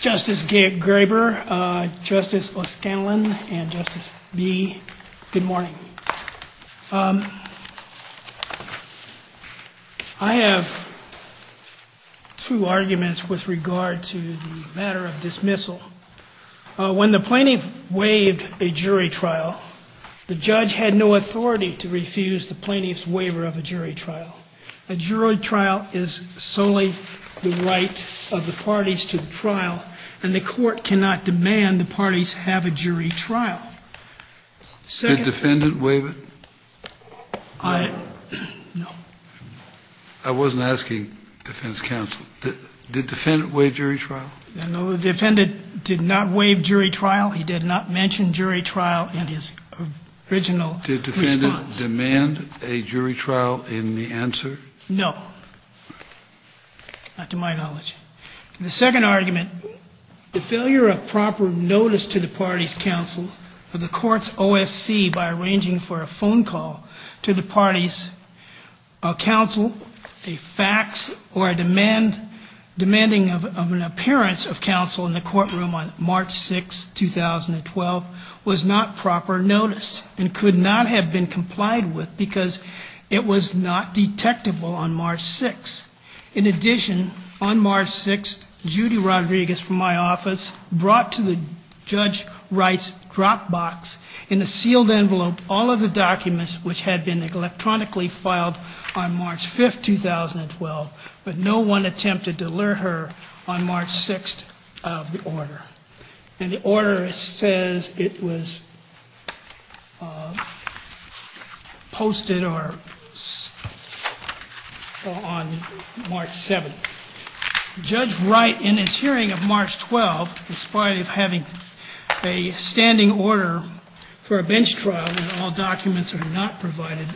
Justice Gabe Graber, Justice O'Scanlan, and Justice Bee, good morning. I have two arguments with regard to the matter of dismissal. When the plaintiff waived a jury trial, the judge had no authority to refuse the plaintiff's waiver of a jury trial. A jury trial is solely the right of the parties to the trial, and the court cannot demand the parties have a jury trial. Did the defendant waive it? No. I wasn't asking defense counsel. Did the defendant waive jury trial? No, the defendant did not waive jury trial. He did not mention jury trial in his original response. Did the answer? No, not to my knowledge. The second argument, the failure of proper notice to the party's counsel of the court's OSC by arranging for a phone call to the party's counsel, a fax, or a demand, demanding of an appearance of counsel in the courtroom on March 6, 2012, was not proper notice and could not have been detectable on March 6. In addition, on March 6, Judy Rodriguez from my office brought to the judge Wright's dropbox in a sealed envelope all of the documents which had been electronically filed on March 5, 2012, but no one attempted to on March 7. Judge Wright, in his hearing of March 12, in spite of having a standing order for a bench trial when all documents are not provided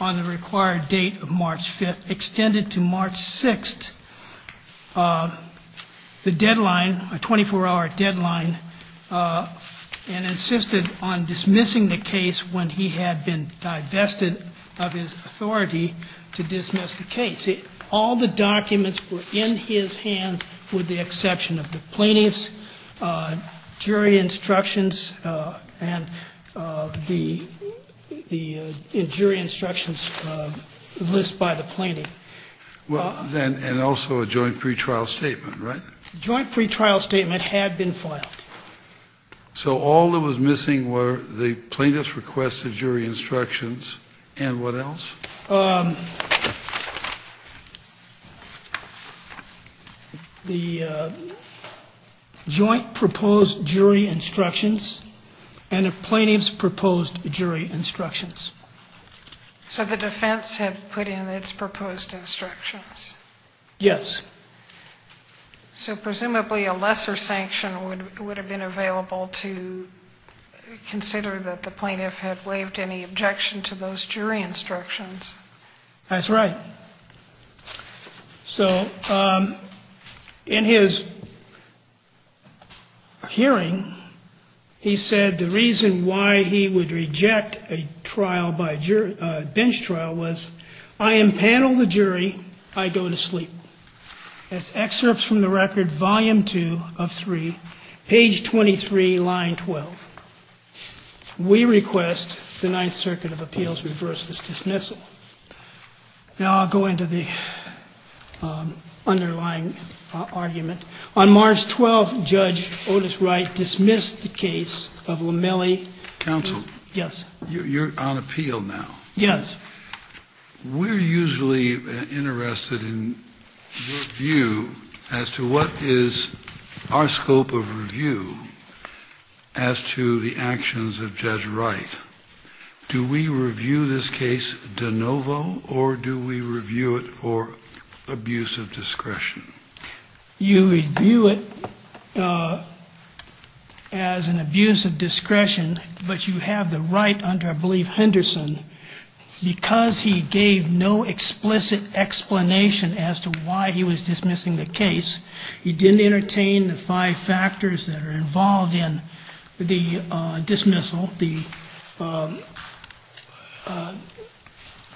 on the required date of March 5, extended to March 6 the deadline, a 24-hour deadline, and insisted on dismissing the case when he had been divested of his authority to dismiss the case. All the documents were in his hands with the exception of the plaintiffs, jury instructions, and the jury instructions list by the plaintiff. Well, then, and also a joint pretrial statement, right? Joint pretrial statement had been filed. So all that was missing were the plaintiff's request of jury instructions and what else? The joint proposed jury instructions and the plaintiff's proposed jury instructions. So the defense had put in its proposed instructions? Yes. So presumably a lesser sanction would have been available to consider that the plaintiff had waived any objection to those jury instructions. That's right. So in his hearing he said the reason why he would reject a trial by jury, a bench trial, was I impanel the jury, I go to sleep. As excerpts from the We request the Ninth Circuit of Appeals reverse this dismissal. Now I'll go into the underlying argument. On March 12, Judge Otis Wright dismissed the case of LaMellie. Counsel? Yes. You're on appeal now. Yes. We're usually interested in your scope of review as to the actions of Judge Wright. Do we review this case de novo or do we review it for abuse of discretion? You review it as an abuse of discretion, but you have the right under, I believe, Henderson. Because he gave no explicit explanation as to why he was dismissing the case, he didn't entertain the five factors that are involved in the dismissal. The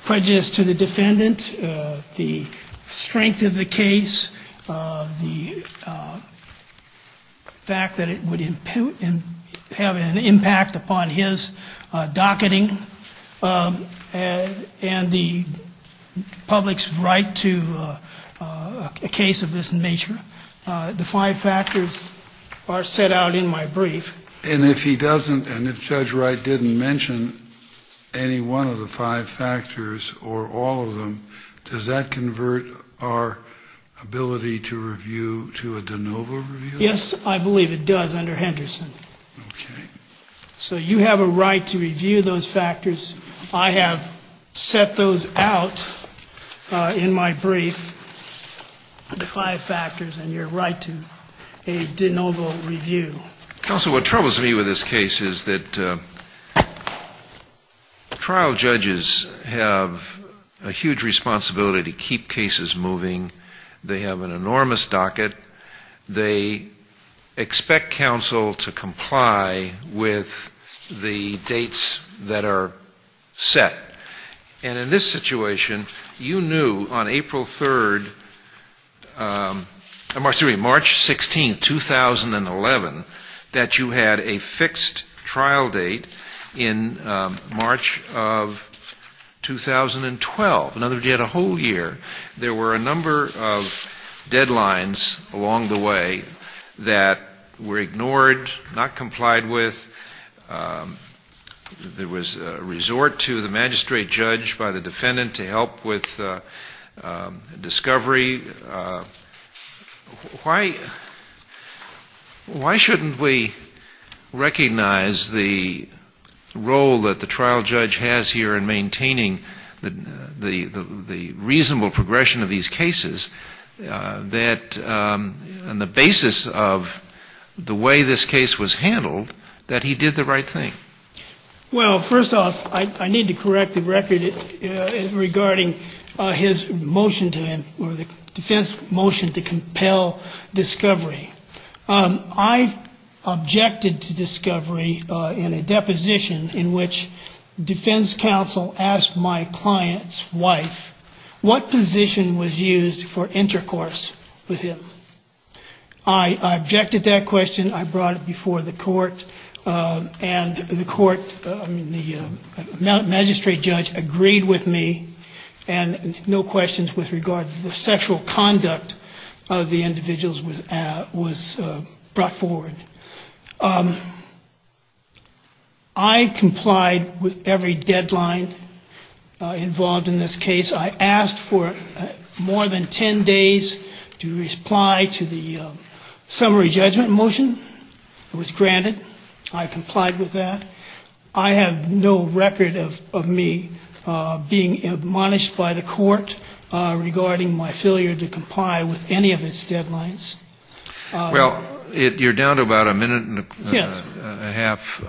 prejudice to the defendant, the strength of the case, the fact that it would have an impact upon his docketing, and the public's right to a case of this nature. The five factors are set out in my brief. And if he doesn't, and if Judge Wright didn't mention any one of the five factors or all of them, does that convert our ability to review to a de novo review? Yes, I believe it does under Henderson. Okay. So you have a right to review those factors. I have set those out in my brief, the five factors that are involved in a de novo review. Counsel, what troubles me with this case is that trial judges have a huge responsibility to keep cases moving. They have an enormous docket. They expect counsel to comply with the dates that are set. And in this situation, you knew on April 3rd, I'm sorry, March 16th, 2011, that you had a fixed trial date in March of 2012. In other words, you had a whole year. There were a number of deadlines along the way that were ignored, not the magistrate judge, by the defendant to help with discovery. Why shouldn't we recognize the role that the trial judge has here in maintaining the reasonable progression of these cases, that on the basis of the way this case was handled, that he did the right thing? Well, first off, I need to correct the record regarding his motion to him, or the defense motion to compel discovery. I objected to discovery in a deposition in which defense counsel asked my client's wife what position was used for intercourse with him. I objected that question. I went to court, and the magistrate judge agreed with me, and no questions with regard to the sexual conduct of the individuals was brought forward. I complied with every deadline involved in this case. I asked for more than 10 days to reply to the summary judgment motion that was granted. I complied with that. I have no record of me being admonished by the court regarding my failure to comply with any of its deadlines. Well, you're down to about a minute and a half.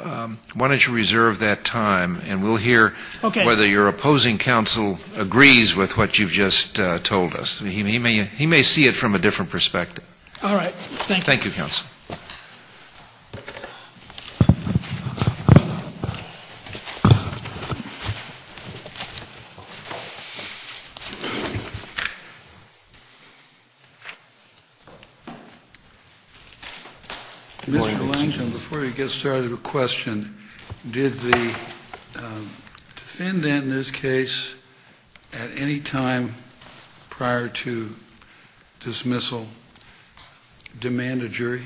Why don't you reserve that time, and we'll hear whether your opposing counsel agrees with what you've just told us. He may see it from a different perspective. All right. Thank you. Thank you, counsel. Before you get started, a question. Did the defendant, in this case, at any time prior to dismissal, demand a jury?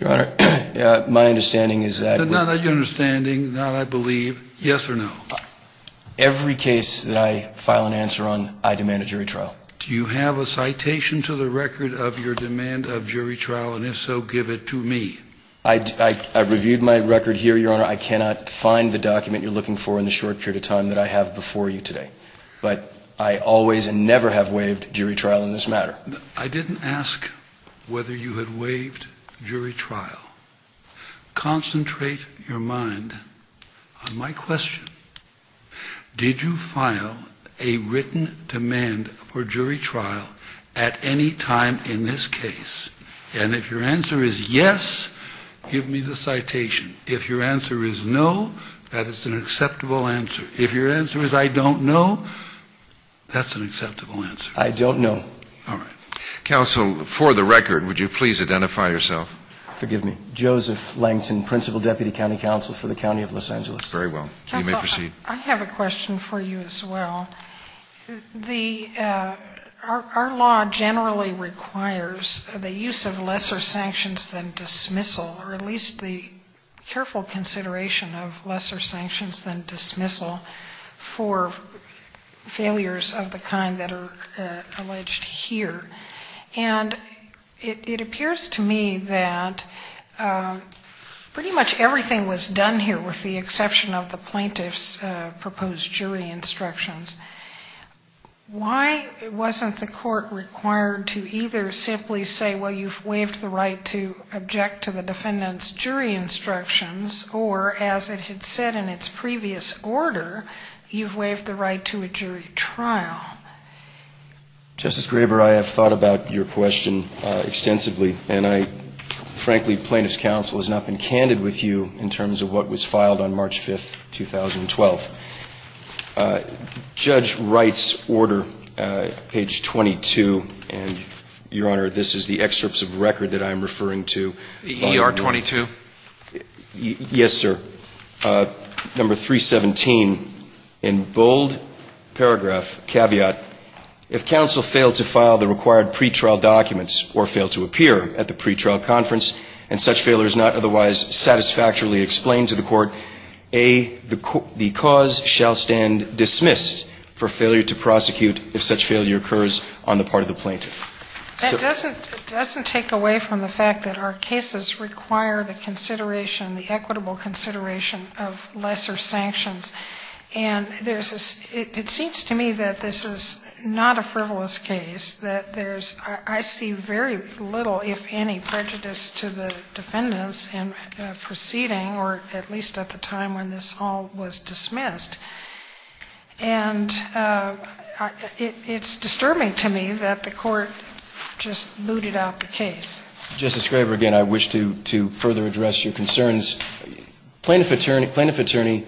Your Honor, my understanding is that... Not that you're understanding, not I believe. Yes or no? Every case that I file an answer on, I demand a jury trial. Do you have a citation to the record of your demand of jury trial? And if so, give it to me. I reviewed my record here, Your Honor. I cannot find the document you're looking for in the short period of time that I have before you today. But I always and never have waived jury trial in this matter. I didn't ask whether you had waived jury trial. Concentrate your mind on my question. Did you file a written demand for jury trial at any time in this case? And if your answer is yes, give me the citation. If your answer is no, that is an acceptable answer. If your answer is I don't know, that's an acceptable answer. I don't know. All right. Counsel, for the record, would you please identify yourself? Forgive me. Joseph Langton, Principal Deputy County Counsel for the County of Los Angeles. Very well. You may proceed. Counsel, I have a question for you as well. Our law generally requires the use of lesser sanctions than dismissal, or at least the careful consideration of lesser sanctions than dismissal for failures of the kind that are alleged here. And it appears to me that pretty much everything was done here with the exception of the plaintiff's proposed jury instructions. Why wasn't the court required to either simply say, well, you've waived the right to object to the jury trial, or as it had said in its previous order, you've waived the right to a jury trial? Justice Graber, I have thought about your question extensively, and I frankly, Plaintiff's Counsel has not been candid with you in terms of what was filed on March 5th, 2012. Judge Wright's order, page 22, and, Your Honor, this is the excerpts of record that I am referring to. ER 22? Yes, sir. Number 317, in bold paragraph, caveat, if counsel failed to file the required pretrial documents or failed to appear at the pretrial conference and such failure is not otherwise satisfactorily explained to the court, A, the cause shall stand dismissed for failure to prosecute if such failure occurs on the part of the plaintiff. That doesn't take away from the fact that our cases require the consideration, the equitable consideration of lesser sanctions. And there's a, it seems to me that this is not a frivolous case, that there's, I see very little, if any, prejudice to the defendants in the proceeding, or at least at the time when this all was Justice Graber, again, I wish to, to further address your concerns. Plaintiff attorney, plaintiff attorney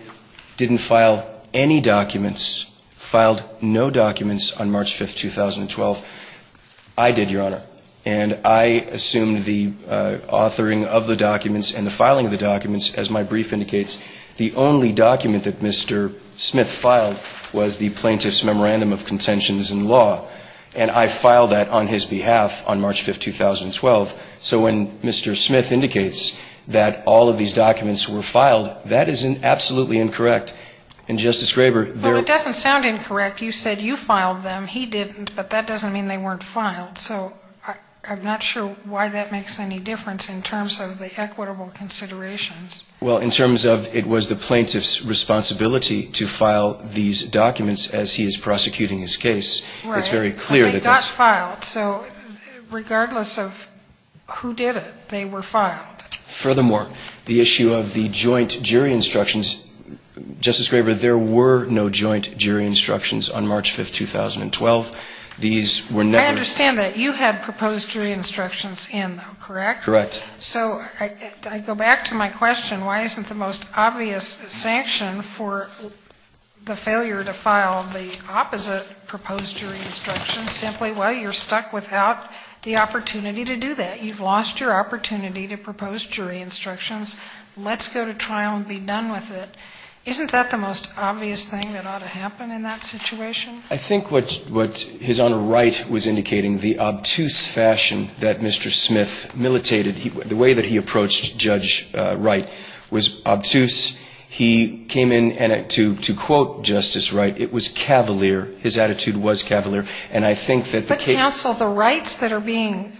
didn't file any documents, filed no documents on March 5th, 2012. I did, Your Honor. And I assumed the authoring of the documents and the filing of the documents, as my brief indicates, the only document that Mr. Smith filed was the plaintiff's memorandum of contentions in law. And I filed that on his behalf on March 5th, 2012. So when Mr. Smith indicates that all of these documents were filed, that is an absolutely incorrect. And Justice Graber, there Well, it doesn't sound incorrect. You said you filed them. He didn't, but that doesn't mean they weren't filed. So I'm not sure why that makes any difference in terms of the equitable considerations. Well, in terms of it was the plaintiff's responsibility to file these documents as he is prosecuting his case, it's very clear that They got filed. So regardless of who did it, they were filed. Furthermore, the issue of the joint jury instructions, Justice Graber, there were no joint jury instructions on March 5th, 2012. These were never I understand that. You had proposed jury instructions in, though, correct? Correct. So I go back to my question, why isn't the most obvious sanction for the failure to file the opposite proposed jury instructions simply, well, you're stuck without the opportunity to do that? You've lost your opportunity to propose jury instructions. Let's go to trial and be done with it. Isn't that the most obvious thing that ought to happen in that situation? I think what His Honor Wright was indicating, the obtuse fashion that Mr. Smith militated, the way that he approached Judge Wright was obtuse. He came in, and to quote Justice Wright, it was cavalier. His attitude was cavalier. And I think that the case But counsel, the rights that are being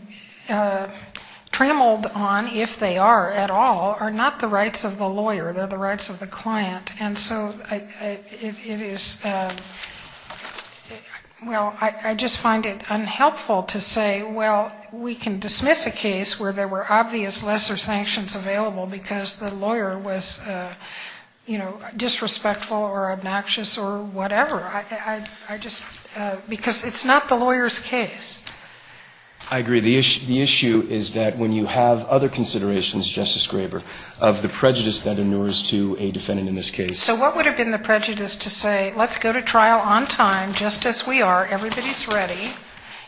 trammeled on, if they are at all, are not the rights of the lawyer. They're the rights of the client. And so it is, well, I just find it unhelpful to say, well, we can dismiss a case where there were obvious lesser sanctions available because the lawyer was, you know, disrespectful or obnoxious or whatever. I just, because it's not the lawyer's case. I agree. The issue is that when you have other considerations, Justice Graber, of the prejudice that inures to a defendant in this case So what would have been the prejudice to say, let's go to trial on time, just as we are, everybody's ready,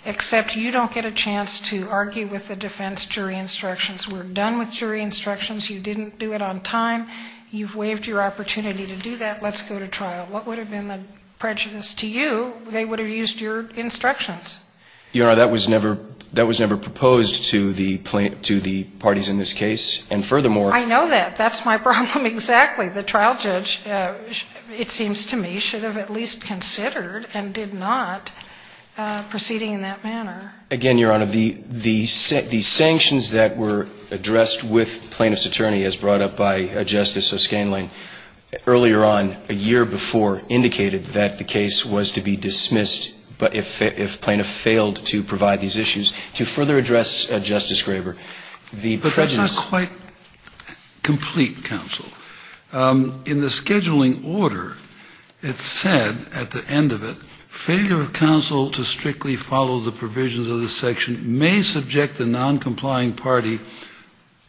except you don't get a chance to argue with the defense jury instructions. We're done with jury instructions. You didn't do it on time. You've waived your opportunity to do that. Let's go to trial. What would have been the prejudice to you? They would have used your instructions. Your Honor, that was never proposed to the parties in this case. And furthermore I know that. That's my problem exactly. The trial judge, it seems to me, should have at least considered and did not proceeding in that manner. Again, Your Honor, the sanctions that were addressed with plaintiff's attorney as brought up by Justice O'Scanlan earlier on, a year before, indicated that the case was to be dismissed if plaintiff failed to provide these issues. To further address Justice Graber, the prejudice But that's not quite complete, counsel. In the scheduling order, it said, at the end of it, failure of counsel to strictly follow the provisions of this section may subject the non-complying party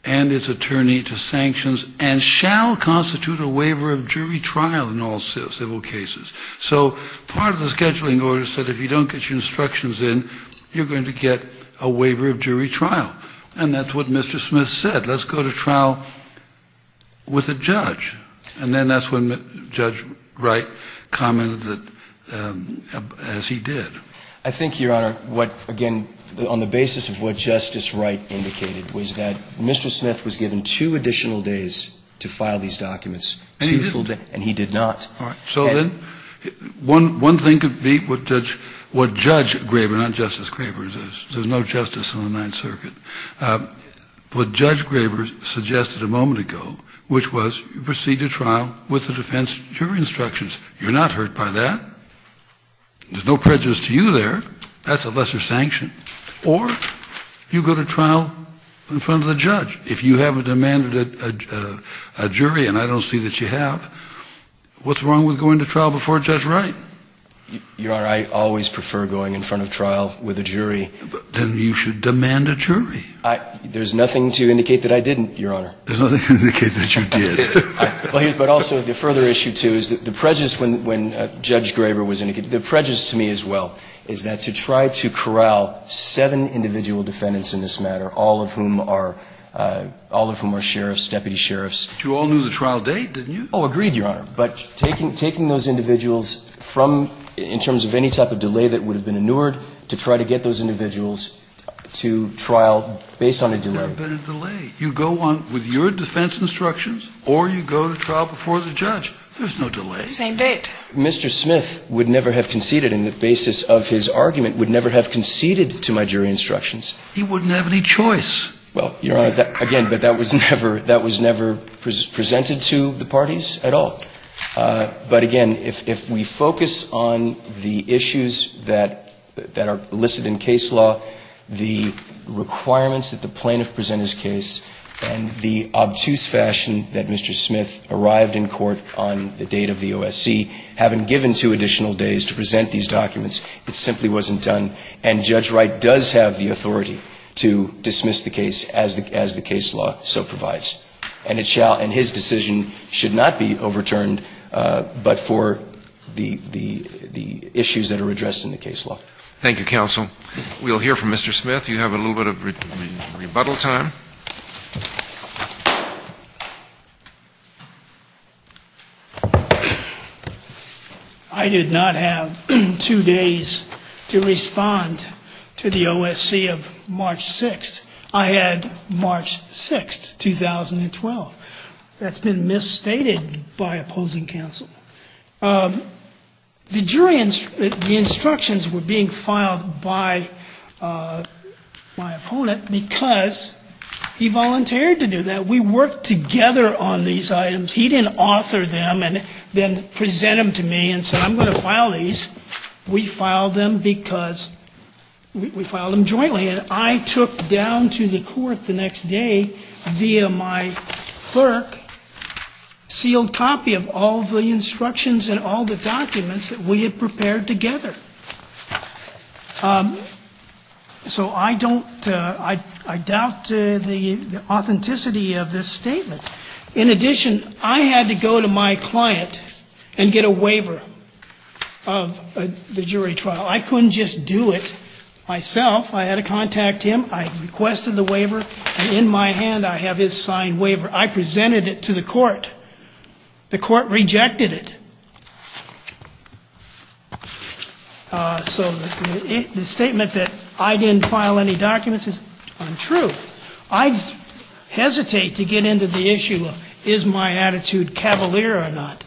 and its attorney to sanctions and shall constitute a waiver of jury trial in all civil cases. So part of the scheduling order said if you don't get your instructions in, you're going to get a waiver of jury trial. And that's what Mr. Smith said. Let's go to trial with a judge. And then that's when Judge Wright commented that, as he did. I think, Your Honor, what, again, on the basis of what Justice Wright indicated, was that Mr. Smith was given two additional days to file these documents. And he didn't. And he did not. All right. So then one thing could be what Judge Graber, not Justice Graber, there's no justice on the Ninth Circuit. What Judge Graber suggested a moment ago, which was you proceed to trial with the defense jury instructions. You're not hurt by that. There's no prejudice to you there. That's a lesser sanction. Or you go to trial in front of the judge. If you haven't demanded a jury, and I don't see that you have, what's wrong with going to trial before Judge Wright? Your Honor, I always prefer going in front of trial with a jury. Then you should demand a jury. There's nothing to indicate that I didn't, Your Honor. There's nothing to indicate that you did. But also, the further issue, too, is that the prejudice when Judge Graber was indicated, the prejudice to me as well, is that to try to corral seven individual defendants in this matter, all of whom are sheriffs, deputy sheriffs. But you all knew the trial date, didn't you? Oh, agreed, Your Honor. But taking those individuals from, in terms of any type of delay that would have been inured, to try to get those individuals to trial based on a delay. There had been a delay. You go on with your defense instructions, or you go to trial before the judge. There's no delay. Same date. Mr. Smith would never have conceded, in the basis of his argument, would never have conceded to my jury instructions. He wouldn't have any choice. Well, Your Honor, again, that was never presented to the parties at all. But again, if we focus on the issues that are listed in case law, the requirements that the plaintiff present his case, and the obtuse fashion that Mr. Smith arrived in court on the date of the OSC, having given two additional days to present these documents, it simply wasn't done. And Judge Wright does have the authority to dismiss the case as the case law so provides. And it shall, and his decision should not be overturned, but for the issues that are addressed in the case law. Thank you, counsel. We'll hear from Mr. Smith. You have a little bit of rebuttal time. I did not have two days to respond to the OSC of March 6th. I had March 6th, 2012. That's been misstated by opposing counsel. The jury, the instructions were being filed by my opponent because he volunteered to do that. We worked together on these items. He didn't author them and then present them to me and say, I'm going to file these. We filed them because, we filed them jointly, and I took down to the court the next day via my clerk, sealed copy of all the instructions and all the documents that we had prepared together. So I don't, I doubt the authenticity of this statement. In addition, I had to go to my client and get a waiver of the jury trial. I couldn't just do it myself. I had to contact him. I requested the waiver, and in my hand I have his signed waiver. I presented it to the court. The court rejected it. So the statement that I didn't file any documents is untrue. I hesitate to get into the issue of is my attitude cavalier or not.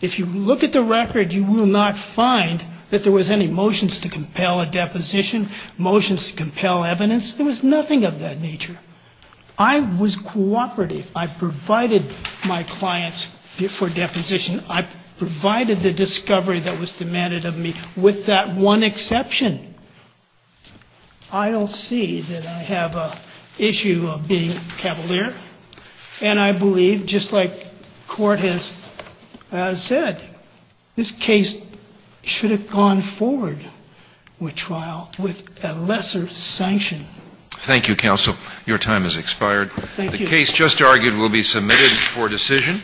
If you look at the record, you will not find that there was any motions to compel a deposition. Motions to compel evidence, there was nothing of that nature. I was cooperative. I provided my clients for deposition. I provided the discovery that was demanded of me with that one exception. I don't see that I have an issue of being cavalier, and I believe, just like the court has said, this case should have gone forward with trial with a lesser sanction. Thank you, counsel. Your time has expired. Thank you. The case just argued will be submitted for decision.